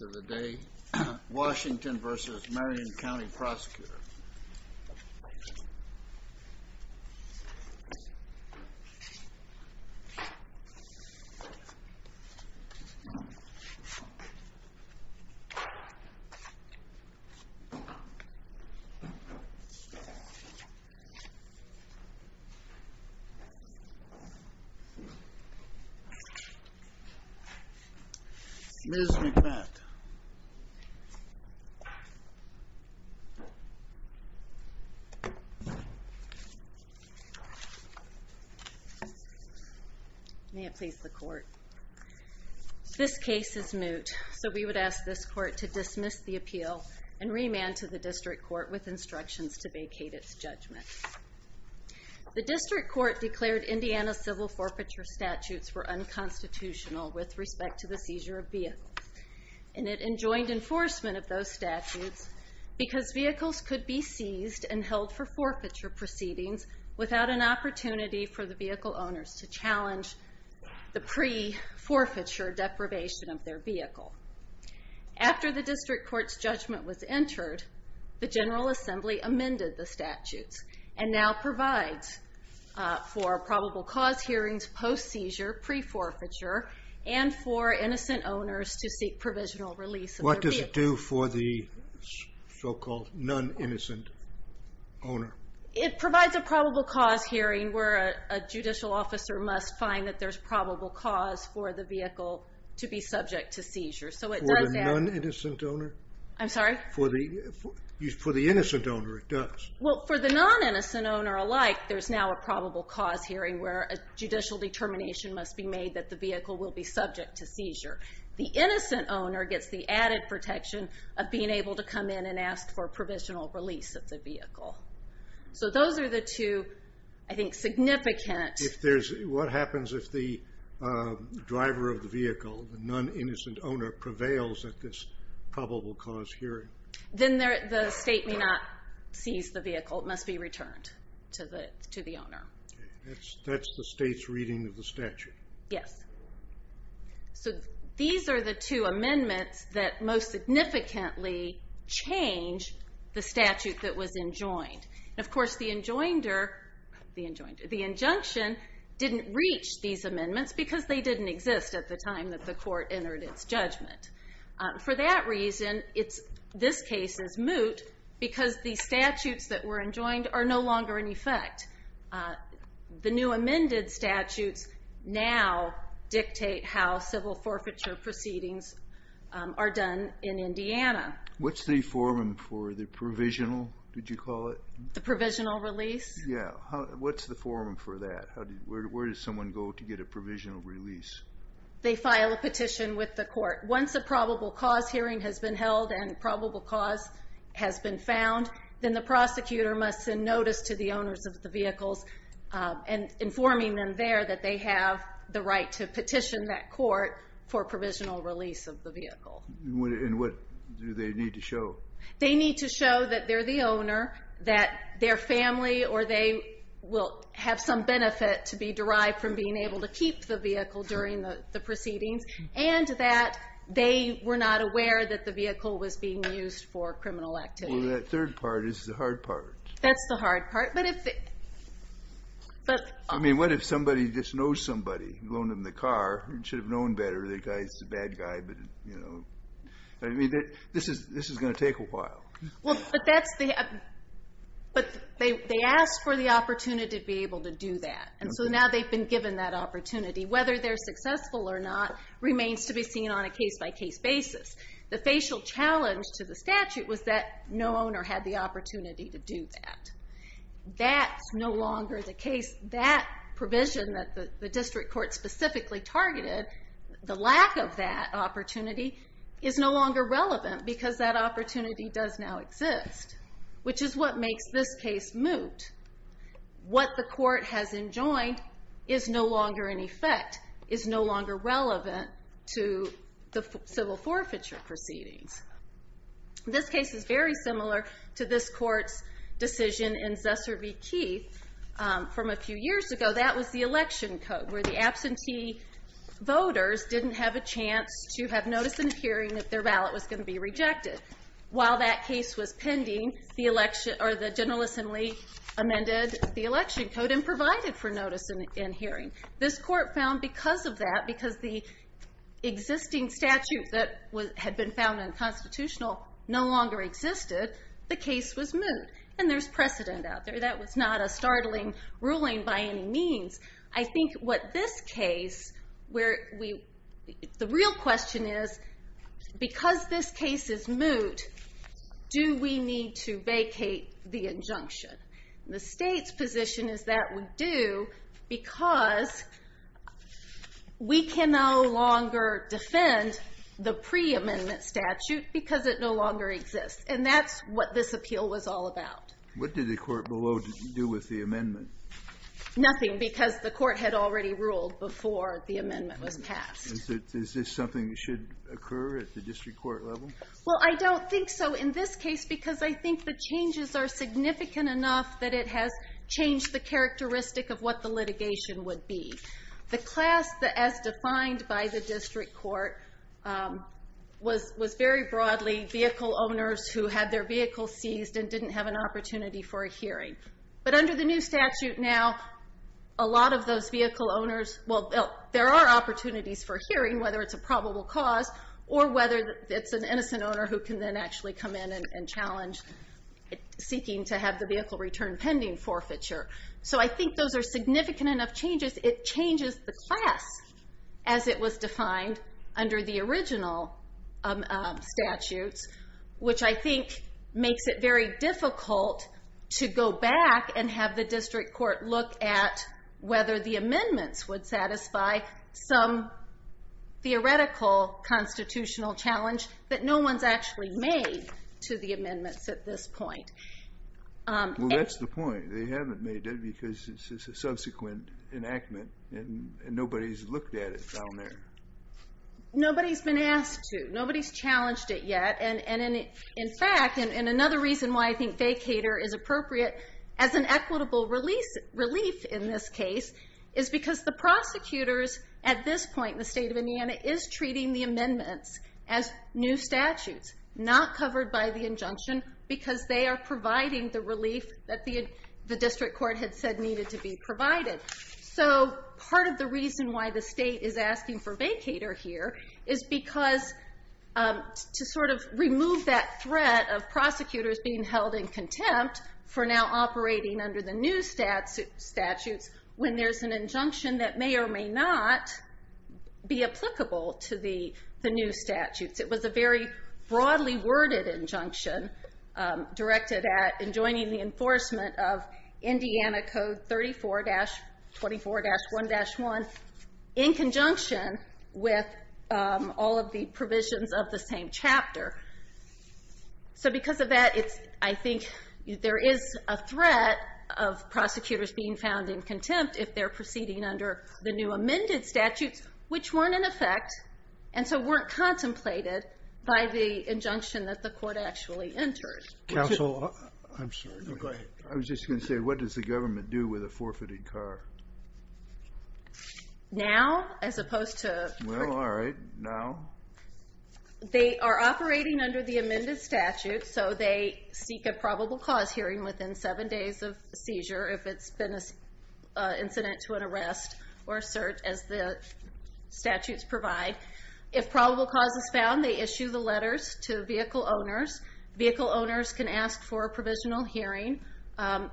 of the day, Washington v. Marion County Prosecutor. Miss McGbeth. May it please the court. This case is moot, so we would ask this court to dismiss the appeal and remand to the district court with instructions to vacate its judgment. The district court declared Indiana's civil forfeiture statutes were unconstitutional with respect to the seizure of vehicles. And it enjoined enforcement of those statutes because vehicles could be seized and held for forfeiture proceedings without an opportunity for the vehicle owners to challenge the pre-forfeiture deprivation of their vehicle. After the district court's judgment was entered, the General Assembly amended the statutes and now provides for probable cause hearings post-seizure, pre-forfeiture, and for innocent owners to seek provisional release of their vehicle. What does it do for the so-called non-innocent owner? It provides a probable cause hearing where a judicial officer must find that there's probable cause for the vehicle to be subject to seizure. So it does that. For the non-innocent owner? I'm sorry? For the innocent owner, it does. Well, for the non-innocent owner alike, there's now a probable cause hearing where a judicial determination must be made that the vehicle will be subject to seizure. The innocent owner gets the added protection of being able to come in and ask for a provisional release of the vehicle. So those are the two, I think, significant... What happens if the driver of the vehicle, the non-innocent owner, prevails at this probable cause hearing? Then the state may not seize the vehicle. It must be returned to the owner. That's the state's reading of the statute. Yes. So these are the two amendments that most significantly change the statute that was enjoined. And of course, the injunction didn't reach these amendments because they didn't exist at the time that the court entered its judgment. For that reason, this case is moot because the statutes that were enjoined are no longer in effect. The new amended statutes now dictate how civil forfeiture proceedings are done in Indiana. What's the form for the provisional, did you call it? The provisional release? Yeah. What's the form for that? Where does someone go to get a provisional release? They file a petition with the court. Once a probable cause hearing has been held and a probable cause has been found, then the prosecutor must send notice to the owners of the vehicles, informing them there that they have the right to petition that court for provisional release of the vehicle. And what do they need to show? They need to show that they're the owner, that their family or they will have some benefit to be derived from being able to keep the vehicle during the proceedings, and that they were not aware that the vehicle was being used for criminal activity. Well, that third part is the hard part. That's the hard part. But if they... I mean, what if somebody just knows somebody, loaned them the car, should have known better the guy's a bad guy, but, you know, I mean, this is going to take a while. Well, but that's the... But they asked for the opportunity to be able to do that. And so now they've been given that opportunity. Whether they're successful or not remains to be seen on a case-by-case basis. The facial challenge to the statute was that no owner had the opportunity to do that. That's no longer the case. That provision that the district court specifically targeted, the lack of that opportunity is no longer relevant because that opportunity does now exist, which is what makes this case moot. What the court has enjoined is no longer in effect, is no longer relevant to the civil forfeiture proceedings. This case is very similar to this court's decision in Zusser v. Keith from a few years ago. That was the election code, where the absentee voters didn't have a chance to have notice in the hearing that their ballot was going to be rejected. While that case was pending, the election, or the general assembly amended the election code and provided for notice in hearing. This court found because of that, because the existing statute that had been found unconstitutional no longer existed, the case was moot. And there's precedent out there. That was not a startling ruling by any means. I think what this case, the real question is, because this case is moot, do we need to vacate the injunction? The state's position is that we do because we can no longer defend the pre-amendment statute because it no longer exists. And that's what this appeal was all about. What did the court below do with the amendment? Nothing, because the court had already ruled before the amendment was passed. Is this something that should occur at the district court level? Well, I don't think so in this case, because I think the changes are significant enough that it has changed the characteristic of what the litigation would be. The class, as defined by the district court, was very broadly vehicle owners who had their But under the new statute now, a lot of those vehicle owners, well, there are opportunities for hearing whether it's a probable cause or whether it's an innocent owner who can then actually come in and challenge seeking to have the vehicle returned pending forfeiture. So I think those are significant enough changes. It changes the class as it was defined under the original statutes, which I think makes it very difficult to go back and have the district court look at whether the amendments would satisfy some theoretical constitutional challenge that no one's actually made to the amendments at this point. Well, that's the point. They haven't made it because it's a subsequent enactment and nobody's looked at it down there. Nobody's been asked to. Nobody's challenged it yet. In fact, and another reason why I think vacator is appropriate as an equitable relief in this case is because the prosecutors at this point in the state of Indiana is treating the amendments as new statutes, not covered by the injunction, because they are providing the relief that the district court had said needed to be provided. So part of the reason why the state is asking for vacator here is because to sort of remove that threat of prosecutors being held in contempt for now operating under the new statutes when there's an injunction that may or may not be applicable to the new statutes. It was a very broadly worded injunction directed at and joining the enforcement of Indiana Code 34-24-1-1 in conjunction with all of the provisions of the same chapter. So because of that, it's I think there is a threat of prosecutors being found in contempt if they're proceeding under the new amended statutes, which weren't in effect and so weren't contemplated by the injunction that the court actually entered. Counsel, I'm sorry. No, go ahead. I was just going to say, what does the government do with a forfeited car? Now, as opposed to- Well, all right. Now? They are operating under the amended statute, so they seek a probable cause hearing within seven days of seizure if it's been an incident to an arrest or cert as the statutes provide. If probable cause is found, they issue the letters to vehicle owners. Vehicle owners can ask for a provisional hearing.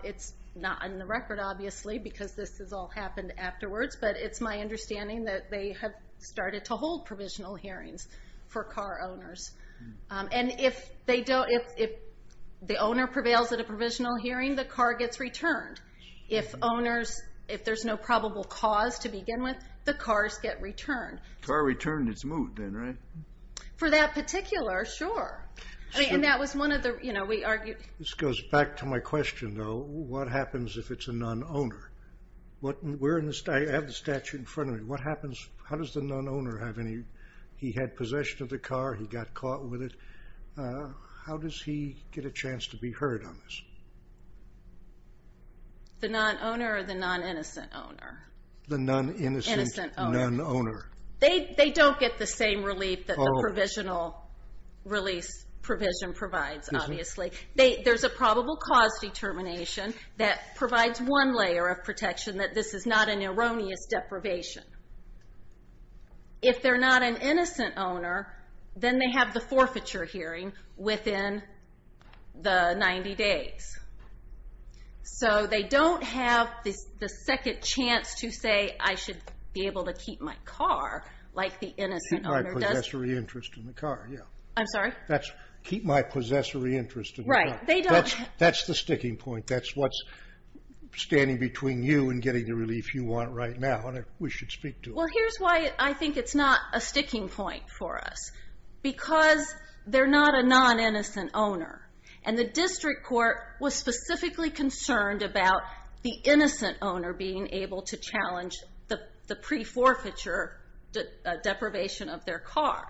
It's not in the record, obviously, because this has all happened afterwards, but it's my understanding that they have started to hold provisional hearings for car owners. And if the owner prevails at a provisional hearing, the car gets returned. If there's no probable cause to begin with, the cars get returned. Car returned its moot then, right? For that particular, sure. I mean, and that was one of the, you know, we argued- This goes back to my question, though. What happens if it's a non-owner? I have the statute in front of me. What happens, how does the non-owner have any, he had possession of the car, he got caught with it, how does he get a chance to be heard on this? The non-owner or the non-innocent owner? The non-innocent non-owner. They don't get the same relief that the provisional release provision provides, obviously. There's a probable cause determination that provides one layer of protection that this is not an erroneous deprivation. If they're not an innocent owner, then they have the forfeiture hearing within the 90 days. So, they don't have the second chance to say, I should be able to keep my car like the innocent owner does. Keep my possessory interest in the car, yeah. I'm sorry? That's, keep my possessory interest in the car. Right, they don't- That's the sticking point. That's what's standing between you and getting the relief you want right now, and we should speak to it. Well, here's why I think it's not a sticking point for us. Because they're not a non-innocent owner. And the district court was specifically concerned about the innocent owner being able to challenge the pre-forfeiture deprivation of their car.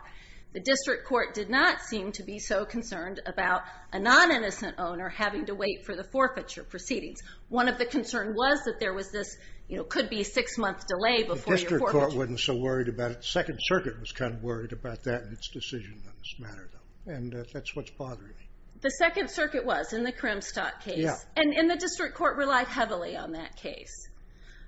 The district court did not seem to be so concerned about a non-innocent owner having to wait for the forfeiture proceedings. One of the concern was that there was this, you know, could be a six month delay before your forfeiture. The district court wasn't so worried about it. The second circuit was kind of worried about that and its decision on this matter, though. And that's what's bothering me. The second circuit was, in the Kremstadt case. And the district court relied heavily on that case.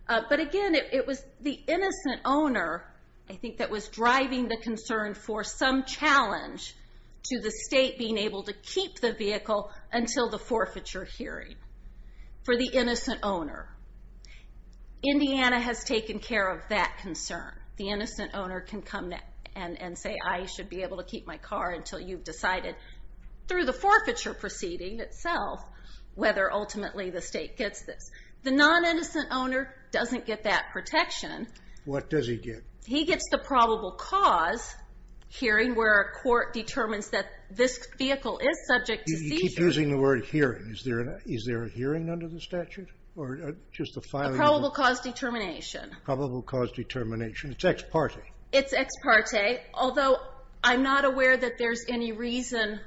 But again, it was the innocent owner, I think, that was driving the concern for some challenge to the state being able to keep the vehicle until the forfeiture hearing. For the innocent owner. Indiana has taken care of that concern. The innocent owner can come and say, I should be able to keep my car until you've decided, through the forfeiture proceeding itself, whether ultimately the state gets this. The non-innocent owner doesn't get that protection. What does he get? He gets the probable cause hearing where a court determines that this vehicle is subject to seizures. You keep using the word hearing. Is there a hearing under the statute? A probable cause determination. Probable cause determination. It's ex parte. It's ex parte. Although, I'm not aware that there's any reason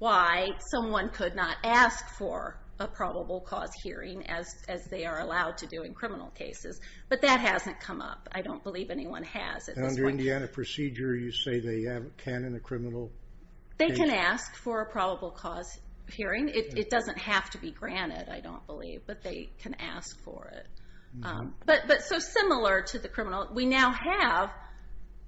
why someone could not ask for a probable cause hearing as they are allowed to do in criminal cases. But that hasn't come up. I don't believe anyone has. Under Indiana procedure, you say they can in a criminal case? They can ask for a probable cause hearing. It doesn't have to be granted, I don't believe. But they can ask for it. Similar to the criminal, we now have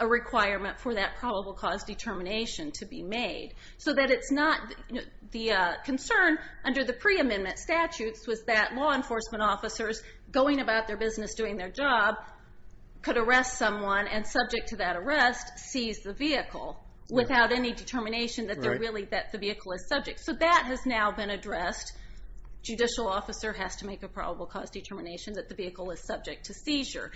a requirement for that probable cause determination to be made. The concern under the pre-amendment statutes was that law enforcement officers going about their business, doing their job, could arrest someone and subject to that arrest, seize the vehicle. Without any determination that the vehicle is subject. That has now been addressed. Judicial officer has to make a probable cause determination that the vehicle is subject to seizure.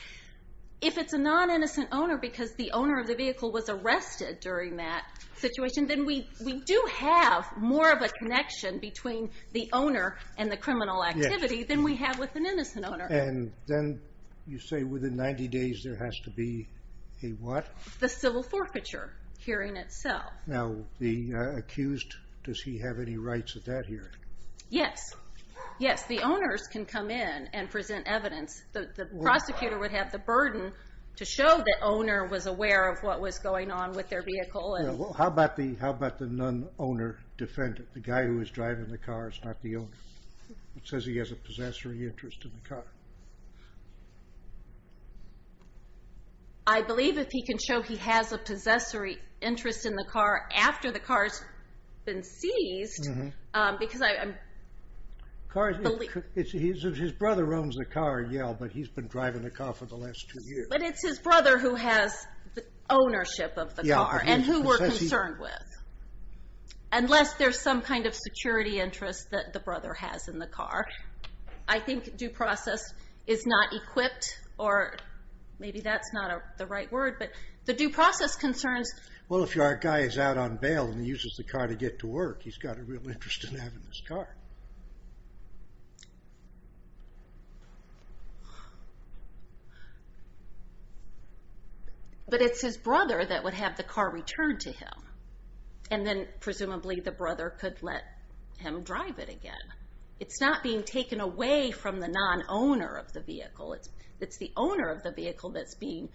If it's a non-innocent owner because the owner of the vehicle was arrested during that situation, then we do have more of a connection between the owner and the criminal activity than we have with an innocent owner. And then you say within 90 days there has to be a what? The civil forfeiture hearing itself. Now, the accused, does he have any rights at that hearing? Yes. Yes, the owners can come in and present evidence. The prosecutor would have the burden to show the owner was aware of what was going on with their vehicle. How about the non-owner defendant? The guy who was driving the car is not the owner. It says he has a possessory interest in the car. I believe if he can show he has a possessory interest in the car after the car has been seized, because I believe... His brother owns the car in Yale, but he's been driving the car for the last two years. But it's his brother who has ownership of the car and who we're concerned with. Unless there's some kind of security interest that the brother has in the car. I think due process is not equipped or maybe that's not the right word, but the due process concerns... Well, if our guy is out on bail and he uses the car to get to work, he's got a real interest in having this car. But it's his brother that would have the car returned to him. And then presumably the brother could let him drive it again. It's not being taken away from the non-owner of the vehicle. It's the owner of the vehicle that's being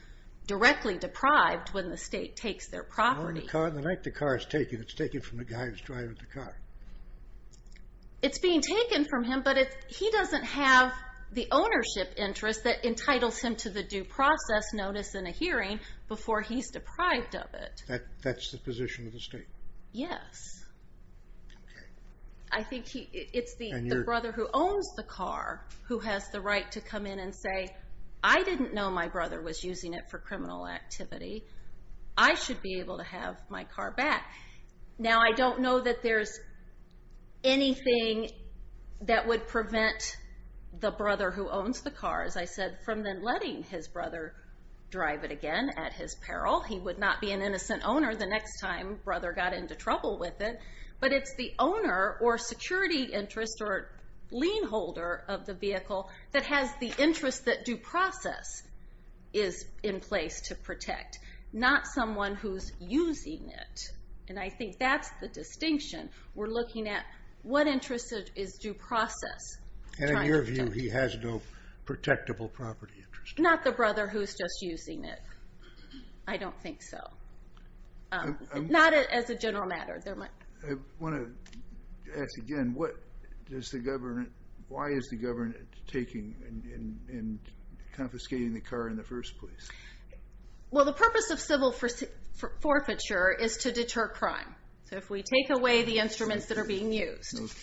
directly deprived when the state takes their property. The night the car is taken, it's taken from the guy who's driving the car. It's being taken from him, but he doesn't have the ownership interest that entitles him to the due process notice in a hearing before he's deprived of it. That's the position of the state? Yes. I think it's the brother who owns the car who has the right to come in and say, I didn't know my brother was using it for criminal activity. I should be able to have my car back. Now, I don't know that there's anything that would prevent the brother who owns the car, as I said, from then letting his brother drive it again at his peril. He would not be an innocent owner the next time brother got into trouble with it. But it's the owner or security interest or lien holder of the vehicle that has the interest that due process is in place to protect. Not someone who's using it. And I think that's the distinction. We're looking at what interest is due process. And in your view, he has no protectable property interest? Not the brother who's just using it. I don't think so. Not as a general matter. I want to ask again, what does the government, why is the government taking and confiscating the car in the first place? Well, the purpose of civil forfeiture is to deter crime. So if we take away the instruments that are being used, that's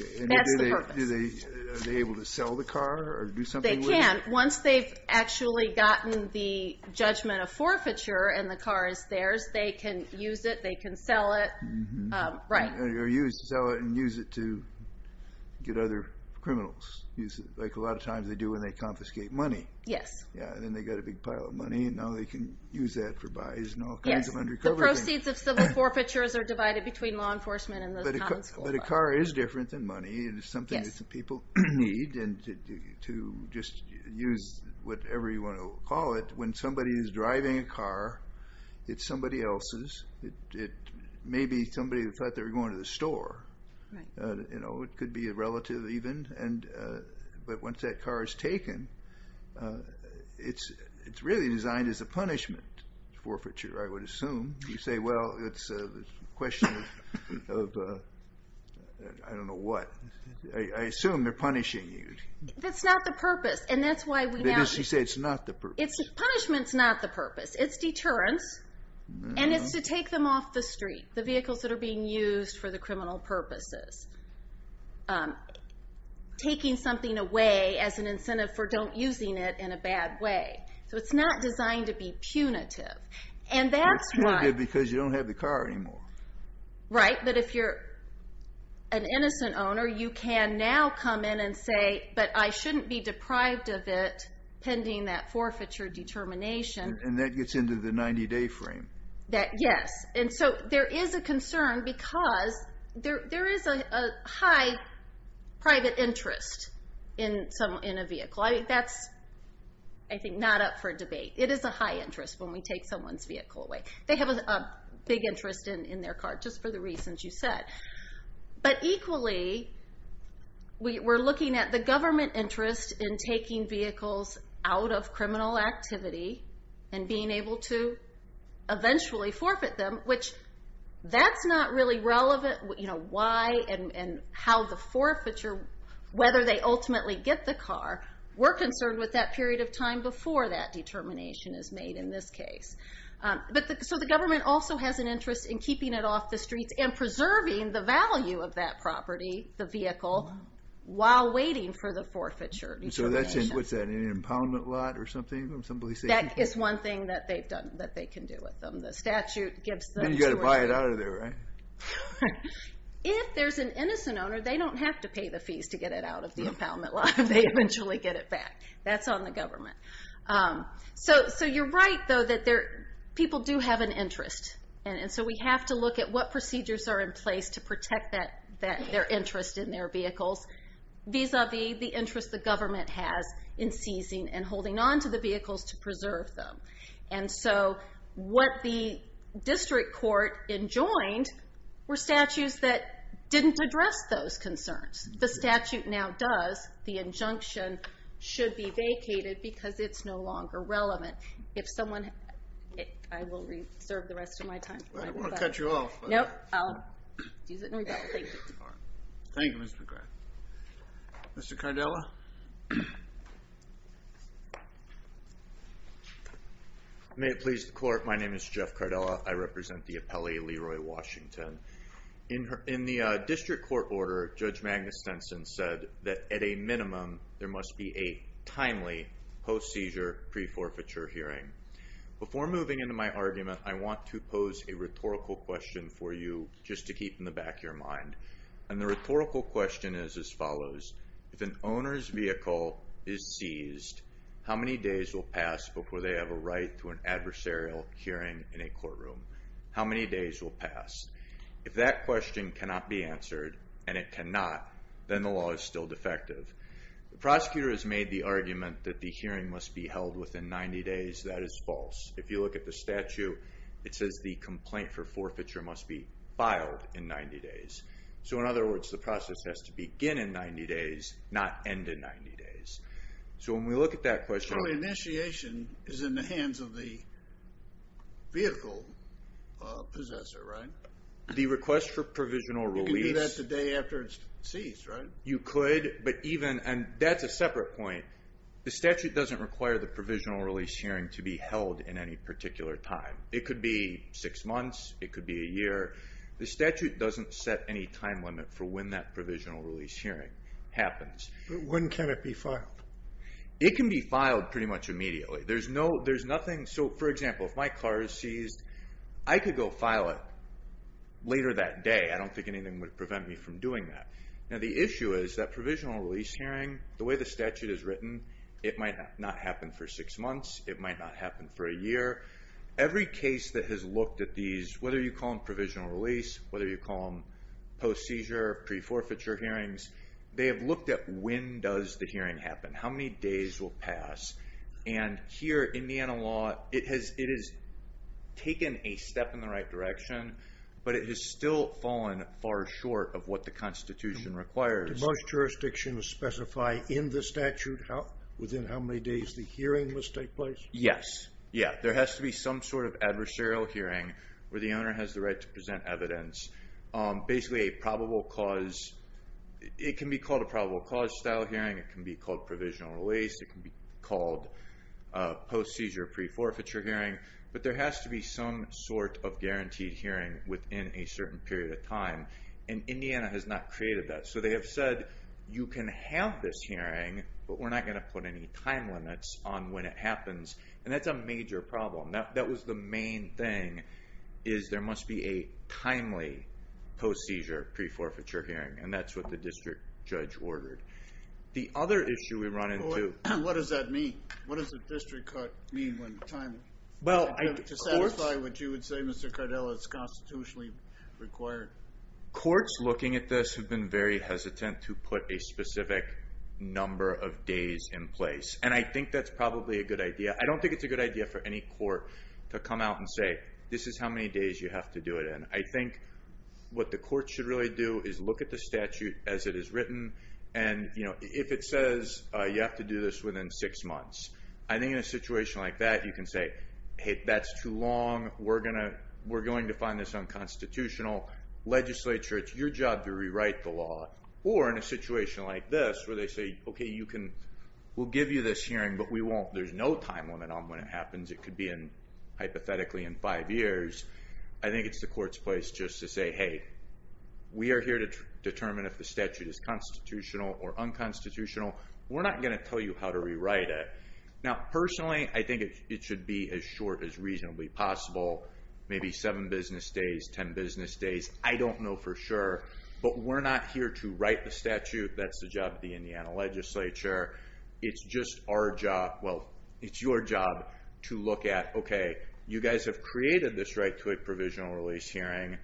the purpose. Are they able to sell the car or do something with it? They can. Once they've actually gotten the judgment of forfeiture and the car is theirs, they can use it, they can sell it. Or sell it and use it to get other criminals. Like a lot of times they do when they confiscate money. Then they get a big pile of money and now they can use that for buys. The proceeds of civil forfeitures are divided between law enforcement and the common school. But a car is different than money. It's something that people need to just use whatever you want to call it. When somebody is driving a car, it's somebody else's. It may be somebody who thought they were going to the store. It could be a relative even. But once that car is taken, it's really designed as a punishment. Forfeiture, I would assume. You say, well, it's a question of I don't know what. I assume they're punishing you. That's not the purpose. Does she say it's not the purpose? Punishment is not the purpose. It's deterrence and it's to take them off the street. The vehicles that are being used for the criminal purposes. Taking something away as an incentive for not using it in a bad way. So it's not designed to be punitive. It's punitive because you don't have the car anymore. Right. But if you're an innocent owner, you can now come in and say, but I shouldn't be deprived of it pending that forfeiture determination. And that gets into the 90-day frame. Yes. And so there is a concern because there is a high private interest in a vehicle. That's, I think, not up for debate. It is a high interest when we take someone's vehicle away. They have a big interest in their car just for the reasons you said. But equally, we're looking at the government interest in taking vehicles out of criminal activity and being able to eventually forfeit them, which that's not really relevant. Why and how the forfeiture, whether they ultimately get the car, we're concerned with that period of time before that determination is made in this case. So the government also has an interest in keeping it off the streets and preserving the value of that property, the vehicle, while waiting for the forfeiture determination. So what's that, in an impoundment lot or something? That is one thing that they can do with them. The statute gives them... Then you've got to buy it out of there, right? If there's an innocent owner, they don't have to pay the fees to get it out of the impoundment lot. They eventually get it back. That's on the government. So you're right, though, that people do have an interest. And so we have to look at what procedures are in place to protect their interest in their vehicles vis-a-vis the interest the government has in seizing and holding onto the vehicles to preserve them. And so what the district court enjoined were statutes that didn't address those concerns. The statute now does. The injunction should be vacated because it's no longer relevant. If someone... I will reserve the rest of my time. I don't want to cut you off. I'll use it in rebuttal. Thank you. Thank you, Ms. McGrath. Mr. Cardella? May it please the court, my name is Jeff Cardella. I represent the appellee, Leroy Washington. In the district court order, Judge Magnus Denson said that at a minimum, there must be a timely post-seizure, pre-forfeiture hearing. Before moving into my argument, I want to pose a rhetorical question for you just to keep in the back of your mind. And the rhetorical question is as follows. If an owner's vehicle is seized, how many days will pass before they have a right to an adversarial hearing in a courtroom? How many days will pass? If that question cannot be answered, and it cannot, then the law is still defective. The prosecutor has made the argument that the hearing must be held within 90 days. That is false. If you look at the statute, it says the complaint for forfeiture must be filed in 90 days. So in other words, the process has to begin in 90 days, not end in 90 days. So when we look at that question... The request for provisional release... You can do that the day after it's seized, right? You could, but even... and that's a separate point. The statute doesn't require the provisional release hearing to be held in any particular time. It could be six months. It could be a year. The statute doesn't set any time limit for when that provisional release hearing happens. But when can it be filed? There's nothing... so for example, if my car is seized, I could go file it later that day. I don't think anything would prevent me from doing that. Now the issue is that provisional release hearing, the way the statute is written, it might not happen for six months. It might not happen for a year. Every case that has looked at these, whether you call them provisional release, whether you call them post-seizure, pre-forfeiture hearings, they have looked at when does the hearing happen. How many days will pass? And here, Indiana law, it has taken a step in the right direction, but it has still fallen far short of what the Constitution requires. Do most jurisdictions specify in the statute within how many days the hearing must take place? Yes. Yeah. There has to be some sort of adversarial hearing where the owner has the right to present evidence. Basically a probable cause... it can be called a probable cause style hearing. It can be called provisional release. It can be called a post-seizure, pre-forfeiture hearing, but there has to be some sort of guaranteed hearing within a certain period of time. And Indiana has not created that. So they have said, you can have this hearing, but we're not going to put any time limits on when it happens. And that's a major problem. That was the main thing, is there must be a timely post-seizure, pre-forfeiture hearing. And that's what the district judge ordered. The other issue we run into... What does that mean? What does the district court mean when the time... Well, I... To satisfy what you would say, Mr. Cardell, it's constitutionally required. Courts looking at this have been very hesitant to put a specific number of days in place. And I think that's probably a good idea. I don't think it's a good idea for any court to come out and say, this is how many days you have to do it in. I think what the court should really do is look at the statute as it is written. And if it says you have to do this within six months, I think in a situation like that you can say, hey, that's too long. We're going to find this unconstitutional. Legislature, it's your job to rewrite the law. Or in a situation like this where they say, okay, we'll give you this hearing, but we won't... There's no time limit on when it happens. It could be hypothetically in five years. I think it's the court's place just to say, hey, we are here to determine if the statute is constitutional or unconstitutional. We're not going to tell you how to rewrite it. Now, personally, I think it should be as short as reasonably possible, maybe seven business days, ten business days. I don't know for sure. But we're not here to write the statute. That's the job of the Indiana legislature. It's just our job... Well, it's your job to look at, okay, you guys have created this right to a provisional release hearing,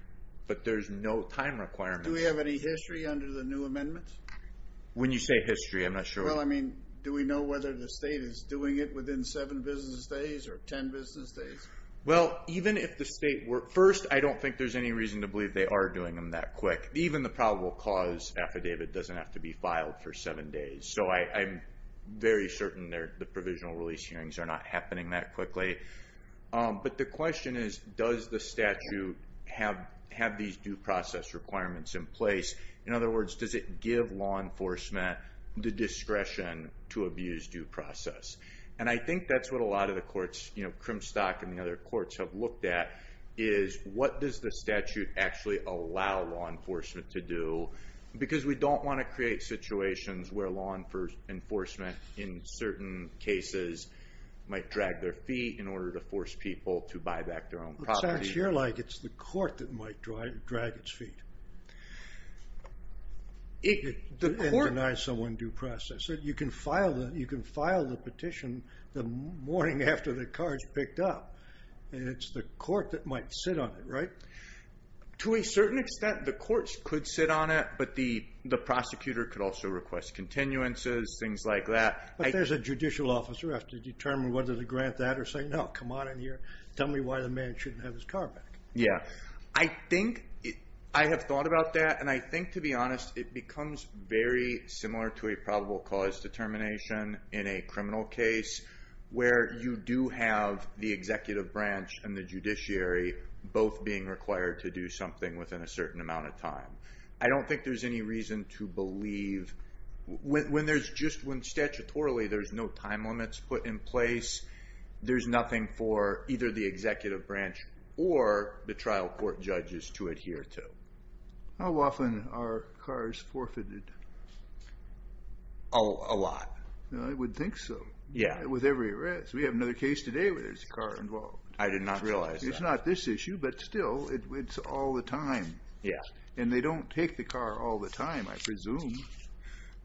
but there's no time requirement. Do we have any history under the new amendments? When you say history, I'm not sure... Well, I mean, do we know whether the state is doing it within seven business days or ten business days? Well, even if the state were... First, I don't think there's any reason to believe they are doing them that quick. Even the probable cause affidavit doesn't have to be filed for seven days. So I'm very certain the provisional release hearings are not happening that quickly. But the question is, does the statute have these due process requirements in place? In other words, does it give law enforcement the discretion to abuse due process? And I think that's what a lot of the courts, Crimstock and the other courts have looked at, is what does the statute actually allow law enforcement to do? Because we don't want to create situations where law enforcement, in certain cases, might drag their feet in order to force people to buy back their own property. It sounds here like it's the court that might drag its feet. It denies someone due process. You can file the petition the morning after the card's picked up. And it's the court that might sit on it, right? To a certain extent, the courts could sit on it, but the prosecutor could also request continuances, things like that. But there's a judicial officer who has to determine whether to grant that or say, no, come on in here, tell me why the man shouldn't have his car back. I have thought about that, and I think, to be honest, it becomes very similar to a probable cause determination in a criminal case, where you do have the executive branch and the judiciary both being required to do something within a certain amount of time. I don't think there's any reason to believe... When statutorily there's no time limits put in place, there's nothing for either the executive branch or the trial court judges to adhere to. How often are cars forfeited? A lot. I would think so, with every arrest. We have another case today where there's a car involved. I did not realize that. It's not this issue, but still, it's all the time. And they don't take the car all the time, I presume.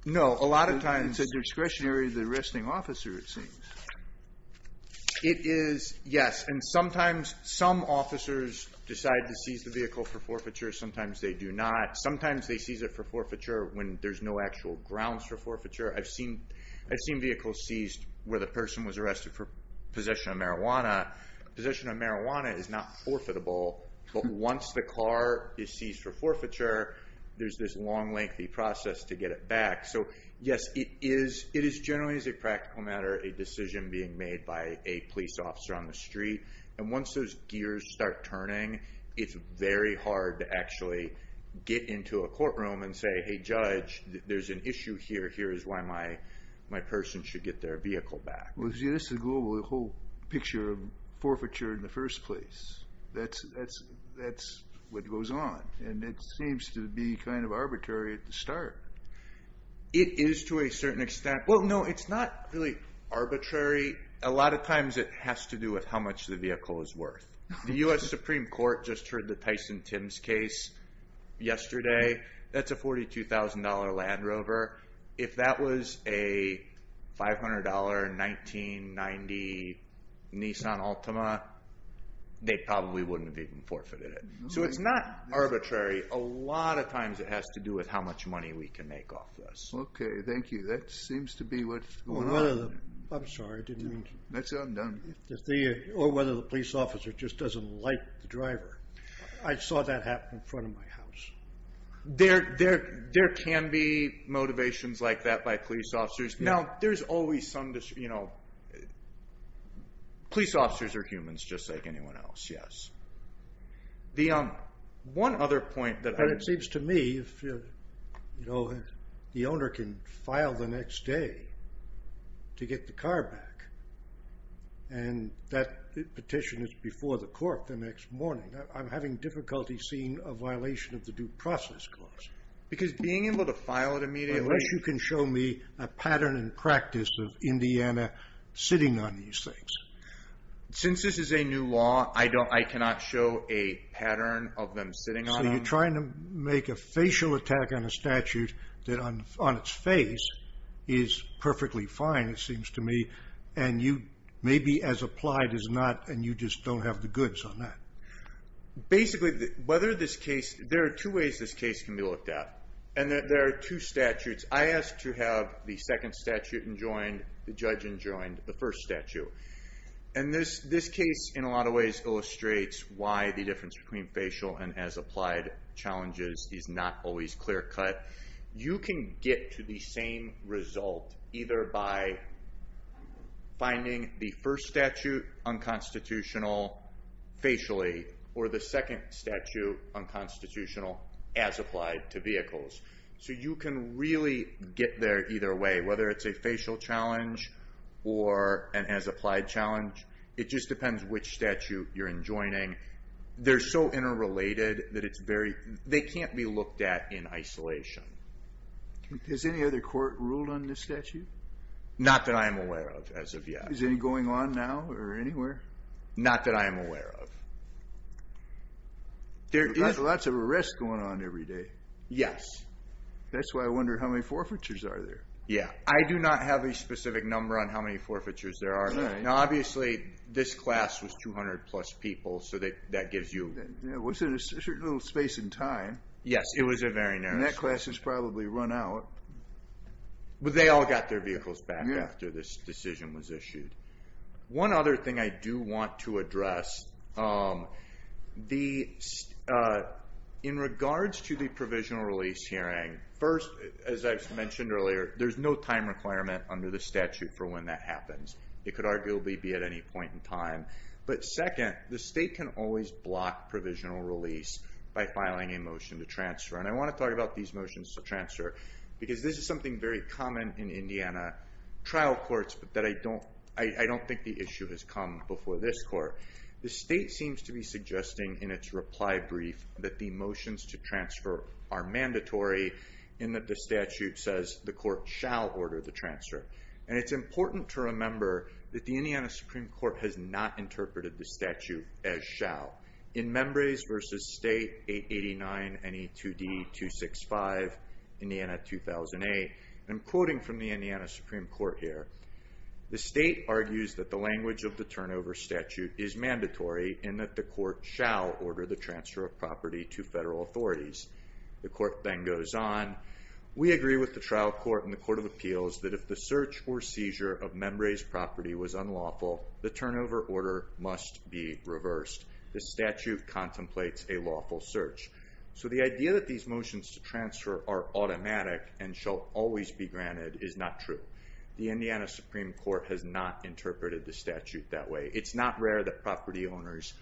No, a lot of times... It's a discretionary arresting officer, it seems. It is, yes, and sometimes some officers decide to seize the vehicle for forfeiture, sometimes they do not. Sometimes they seize it for forfeiture when there's no actual grounds for forfeiture. I've seen vehicles seized where the person was arrested for possession of marijuana. Possession of marijuana is not forfeitable, but once the car is seized for forfeiture, there's this long, lengthy process to get it back. So, yes, it is generally, as a practical matter, a decision being made by a police officer on the street. And once those gears start turning, it's very hard to actually get into a courtroom and say, hey, judge, there's an issue here, here is why my person should get their vehicle back. Well, see, this is a global... the whole picture of forfeiture in the first place. That's what goes on. And it seems to be kind of arbitrary at the start. It is to a certain extent. Well, no, it's not really arbitrary. A lot of times it has to do with how much the vehicle is worth. The U.S. Supreme Court just heard the Tyson-Timms case yesterday. That's a $42,000 Land Rover. If that was a $500, 1990 Nissan Altima, they probably wouldn't have even forfeited it. So it's not arbitrary. A lot of times it has to do with how much money we can make off this. Okay, thank you. That seems to be what's going on. I'm sorry, I didn't mean to... That's undone. Or whether the police officer just doesn't like the driver. I saw that happen in front of my house. There can be motivations like that by police officers. Now, there's always some, you know... Police officers are humans just like anyone else, yes. One other point... It seems to me, you know, the owner can file the next day to get the car back. And that petition is before the court the next morning. I'm having difficulty seeing a violation of the due process clause. Because being able to file it immediately... Unless you can show me a pattern and practice of Indiana sitting on these things. Since this is a new law, I cannot show a pattern of them sitting on them. So you're trying to make a facial attack on a statute that on its face is perfectly fine, it seems to me. And you, maybe as applied as not, and you just don't have the goods on that. Basically, whether this case... There are two ways this case can be looked at. And there are two statutes. I asked to have the second statute enjoined, the judge enjoined the first statute. And this case, in a lot of ways, illustrates why the difference between facial and as applied challenges is not always clear-cut. You can get to the same result either by finding the first statute unconstitutional facially or the second statute unconstitutional as applied to vehicles. So you can really get there either way. Whether it's a facial challenge or an as applied challenge, it just depends which statute you're enjoining. They're so interrelated that it's very... They can't be looked at in isolation. Has any other court ruled on this statute? Not that I am aware of, as of yet. Is it going on now or anywhere? Not that I am aware of. There's lots of arrests going on every day. Yes. That's why I wonder how many forfeitures are there. Yeah, I do not have a specific number on how many forfeitures there are. Now, obviously, this class was 200-plus people, so that gives you... It was a certain little space in time. Yes, it was a very narrow space. And that class has probably run out. But they all got their vehicles back after this decision was issued. One other thing I do want to address... In regards to the provisional release hearing, first, as I mentioned earlier, there's no time requirement under the statute for when that happens. It could arguably be at any point in time. But second, the state can always block provisional release by filing a motion to transfer. And I want to talk about these motions to transfer, because this is something very common in Indiana trial courts, but that I don't... I don't think the issue has come before this court. The state seems to be suggesting in its reply brief that the motions to transfer are mandatory, in that the statute says the court shall order the transfer. And it's important to remember that the Indiana Supreme Court has not interpreted the statute as shall. In Membrays v. State 889-NE2D-265, Indiana 2008, and I'm quoting from the Indiana Supreme Court here, the state argues that the language of the turnover statute is mandatory in that the court shall order the transfer of property to federal authorities. The court then goes on. We agree with the trial court and the court of appeals that if the search or seizure of Membrays property was unlawful, the turnover order must be reversed. The statute contemplates a lawful search. So the idea that these motions to transfer are automatic and shall always be granted is not true. The Indiana Supreme Court has not interpreted the statute that way. It's not rare that property owners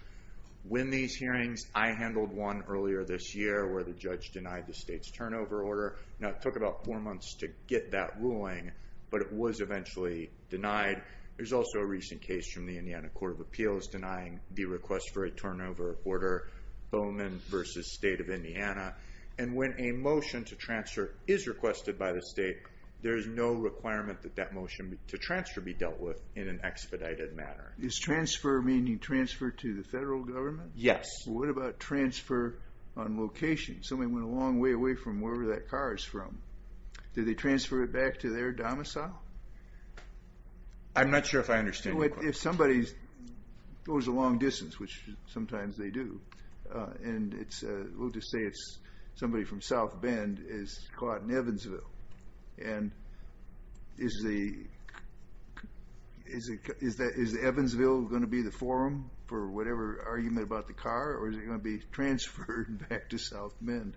win these hearings. I handled one earlier this year where the judge denied the state's turnover order. Now, it took about four months to get that ruling, but it was eventually denied. There's also a recent case from the Indiana Court of Appeals denying the request for a turnover order, Bowman v. State of Indiana. And when a motion to transfer is requested by the state, there is no requirement that that motion to transfer be dealt with in an expedited manner. Is transfer meaning transfer to the federal government? Yes. What about transfer on location? Somebody went a long way away from wherever that car is from. Do they transfer it back to their domicile? I'm not sure if I understand your question. If somebody goes a long distance, which sometimes they do, and we'll just say it's somebody from South Bend, is caught in Evansville, and is Evansville going to be the forum for whatever argument about the car, or is it going to be transferred back to South Bend?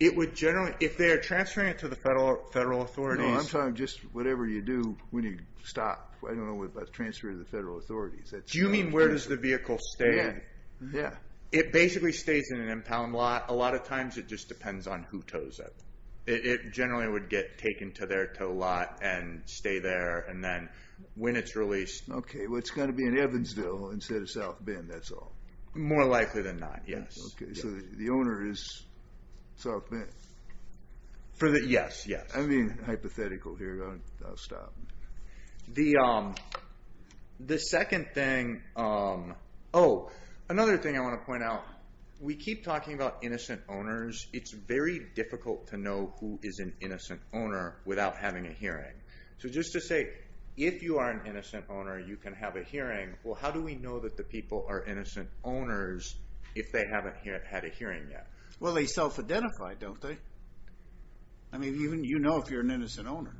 If they're transferring it to the federal authorities... No, I'm talking just whatever you do when you stop. I don't know about transfer to the federal authorities. Do you mean where does the vehicle stay? Yeah. It basically stays in an impound lot. A lot of times it just depends on who tows it. It generally would get taken to their tow lot and stay there, and then when it's released... Okay, well, it's got to be in Evansville instead of South Bend, that's all. More likely than not, yes. Okay, so the owner is South Bend? Yes, yes. I'm being hypothetical here. I'll stop. The second thing... Oh, another thing I want to point out. We keep talking about innocent owners. It's very difficult to know who is an innocent owner without having a hearing. So just to say, if you are an innocent owner, you can have a hearing. Well, how do we know that the people are innocent owners if they haven't had a hearing yet? Well, they self-identify, don't they? You know if you're an innocent owner.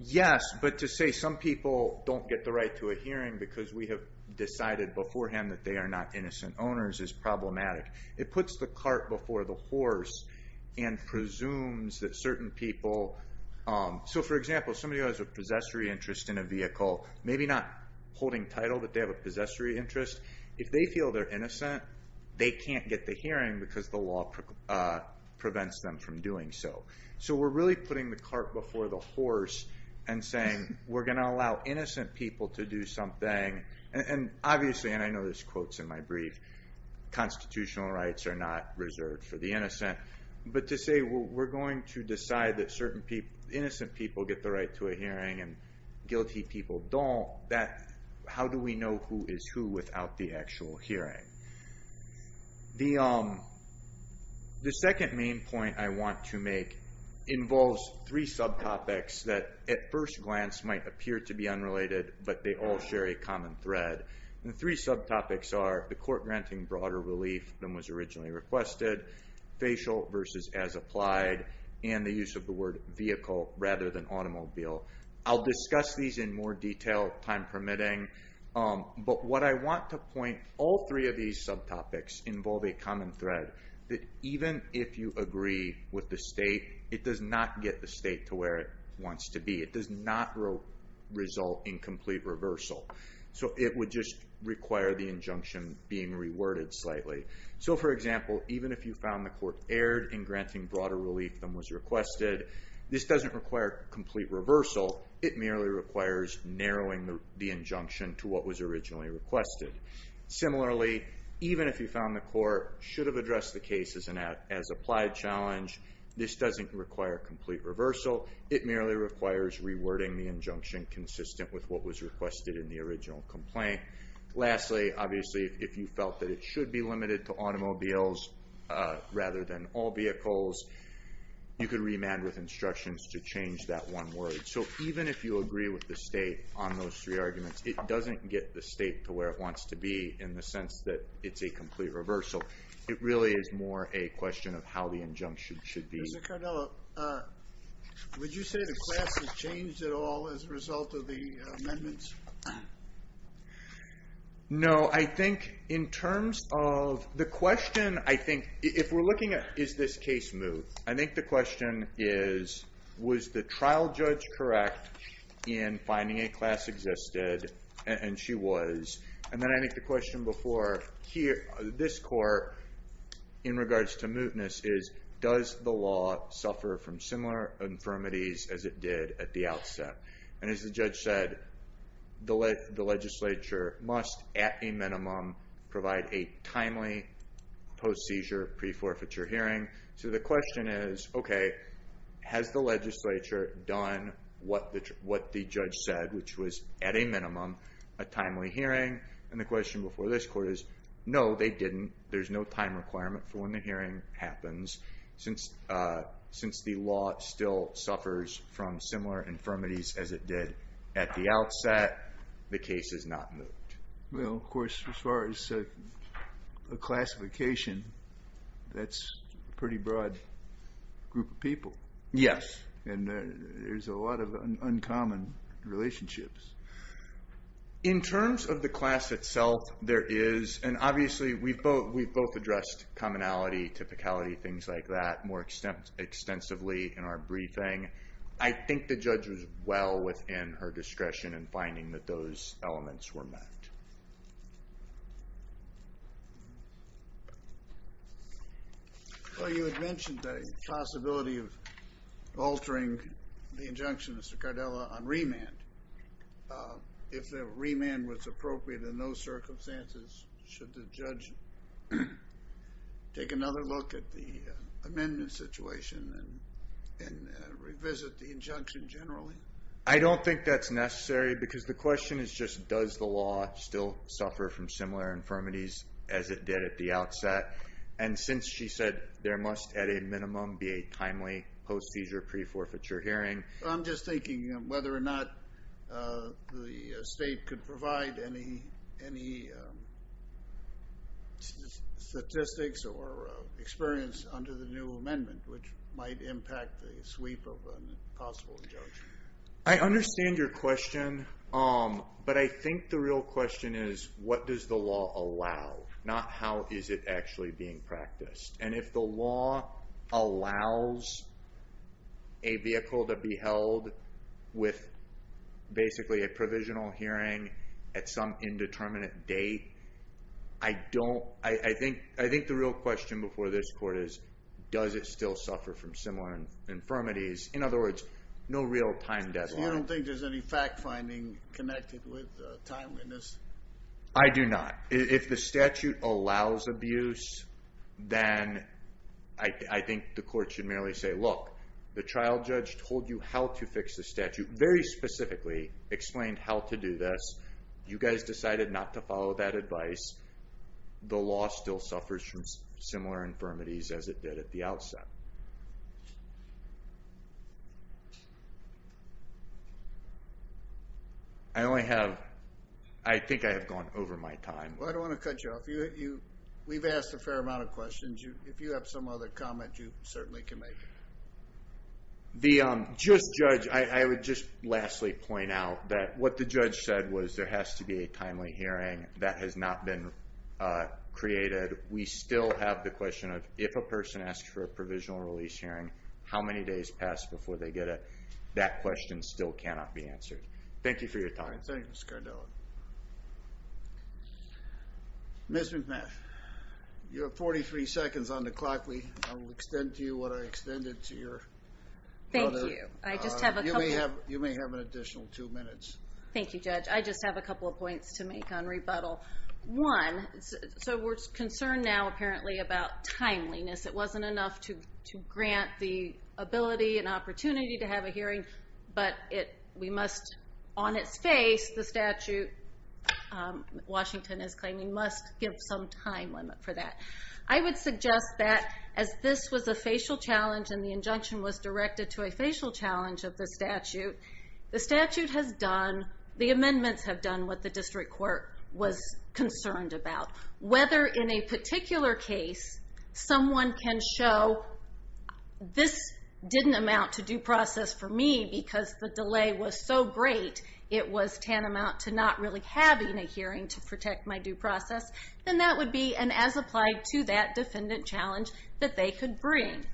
Yes, but to say some people don't get the right to a hearing because we have decided beforehand that they are not innocent owners is problematic. It puts the cart before the horse and presumes that certain people... So for example, somebody who has a possessory interest in a vehicle maybe not holding title, but they have a possessory interest if they feel they're innocent, they can't get the hearing because the law prevents them from doing so. So we're really putting the cart before the horse and saying we're going to allow innocent people to do something and obviously, and I know there's quotes in my brief constitutional rights are not reserved for the innocent but to say we're going to decide that certain people innocent people get the right to a hearing and guilty people don't how do we know who is who without the actual hearing? The second main point I want to make involves three subtopics that at first glance might appear to be unrelated but they all share a common thread. The three subtopics are the court granting broader relief than was originally requested, facial versus as applied and the use of the word vehicle rather than automobile. I'll discuss these in more detail, time permitting but what I want to point, all three of these subtopics involve a common thread that even if you agree with the state, it does not get the state to where it wants to be. It does not result in complete reversal so it would just require the injunction being reworded slightly. So for example even if you found the court erred in granting broader relief than was requested, this doesn't require complete reversal it merely requires narrowing the injunction to what was originally requested. Similarly, even if you found the court should have addressed the case as applied challenge, this doesn't require complete reversal, it merely requires rewording the injunction consistent with what was requested in the original complaint. Lastly, obviously if you felt that it should be limited to automobiles rather than all vehicles, you could remand with instructions to change that one word. So even if you agree with the state on those three arguments it doesn't get the state to where it wants to be in the sense that it's a complete reversal. It really is more a question of how the injunction should be. Mr. Cardello, would you say the class has changed at all as a result of the amendments? No, I think in terms of the question I think, if we're looking at is this case moved, I think the question is was the trial judge correct in finding a class existed, and she was and then I think the question before this court in regards to mootness is, does the law suffer from similar infirmities as it did at the outset? And as the judge said, the legislature must at a minimum provide a timely post-seizure, pre-forfeiture hearing. So the question is, okay has the legislature done what the judge said, which was at a minimum a timely hearing, and the question before this court is no, they didn't. There's no time requirement for when the hearing happens. Since the law still suffers from similar infirmities as it did at the outset, the case is not moot. Well, of course, as far as the classification, that's a pretty broad group of people. Yes. And there's a lot of uncommon relationships. In terms of the class itself, there is, and obviously we've both addressed commonality, typicality, things like that more extensively in our briefing. I think the judge was well within her discretion in finding that those elements were met. Well, you had mentioned the possibility of the injunction, Mr. Cardella, on remand. If the remand was appropriate in those circumstances, should the judge take another look at the amendment situation and revisit the injunction generally? I don't think that's necessary because the question is just does the law still suffer from similar infirmities as it did at the outset, and since she said there must at a I'm just thinking whether or not the state could provide any statistics or experience under the new amendment which might impact the sweep of an possible injunction. I understand your question but I think the real question is what does the law allow, not how is it actually being practiced. And if the law allows a vehicle to be held with basically a provisional hearing at some indeterminate date I don't, I think the real question before this court is does it still suffer from similar infirmities. In other words, no real time deadline. So you don't think there's any fact finding connected with timeliness? I do not. If the statute allows abuse then I think the court should merely say look, the trial judge told you how to fix the statute, very specifically explained how to do this. You guys decided not to follow that advice. The law still suffers from similar infirmities as it did at the outset. I only have, I think I have gone over my time. Well I don't want to cut you off. We've asked a fair amount of questions. If you have some other comment you certainly can make. The, just judge I would just lastly point out that what the judge said was there has to be a timely hearing that has not been created. We still have the question of if a person asks for a provisional release hearing how many days pass before they get it? That question still cannot be answered. Thank you for your time. Thank you Mr. Cardone. Ms. McMath, you have forty three seconds on the clock. I will extend to you what I extended to your brother. Thank you. I just have a couple You may have an additional two minutes. Thank you judge. I just have a couple of points to make on rebuttal. One, so we're concerned now apparently about timeliness. It wasn't enough to grant the ability and opportunity to have a hearing but it, we must on its face the statute Washington is claiming must give some time limit for that. I would suggest that as this was a facial challenge and the injunction was directed to a facial challenge of the statute, the statute has done the amendments have done what the district court was concerned about. Whether in a particular case someone can show this didn't amount to due process for me because the delay was so great it was tantamount to not really having a hearing to protect my due process, then that would be an as applied to that defendant challenge that they could bring.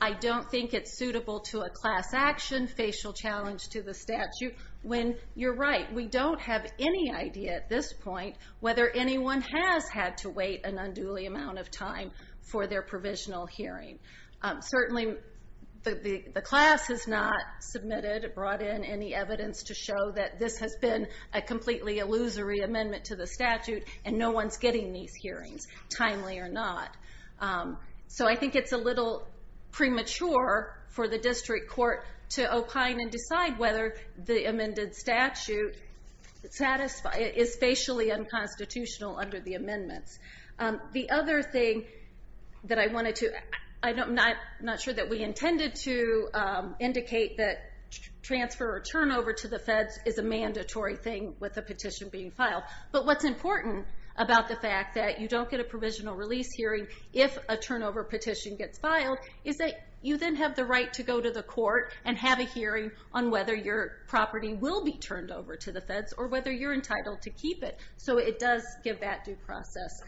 I don't think it's suitable to a class action facial challenge to the statute when you're right, we don't have any idea at this point whether anyone has had to wait an unduly amount of time for their provisional hearing. Certainly the class has not submitted, brought in any evidence to show that this has been a completely illusory amendment to the statute and no one's getting these hearings, timely or not. So I think it's a little premature for the district court to opine and decide whether the amended statute is facially unconstitutional under the amendments. The other thing that I wanted to, I'm not sure that we intended to indicate that transfer or turnover to the feds is a mandatory thing with a petition being filed. But what's important about the fact that you don't get a provisional release hearing if a turnover petition gets filed is that you then have the right to go to the court and have a hearing on whether your property will be turned over to the feds or whether you're entitled to keep it. So it does give that due process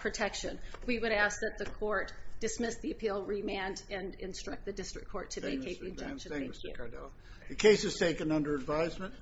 protection. We would ask that the court dismiss the appeal, remand and instruct the district court to vacate the injunction. The case is taken under advisement.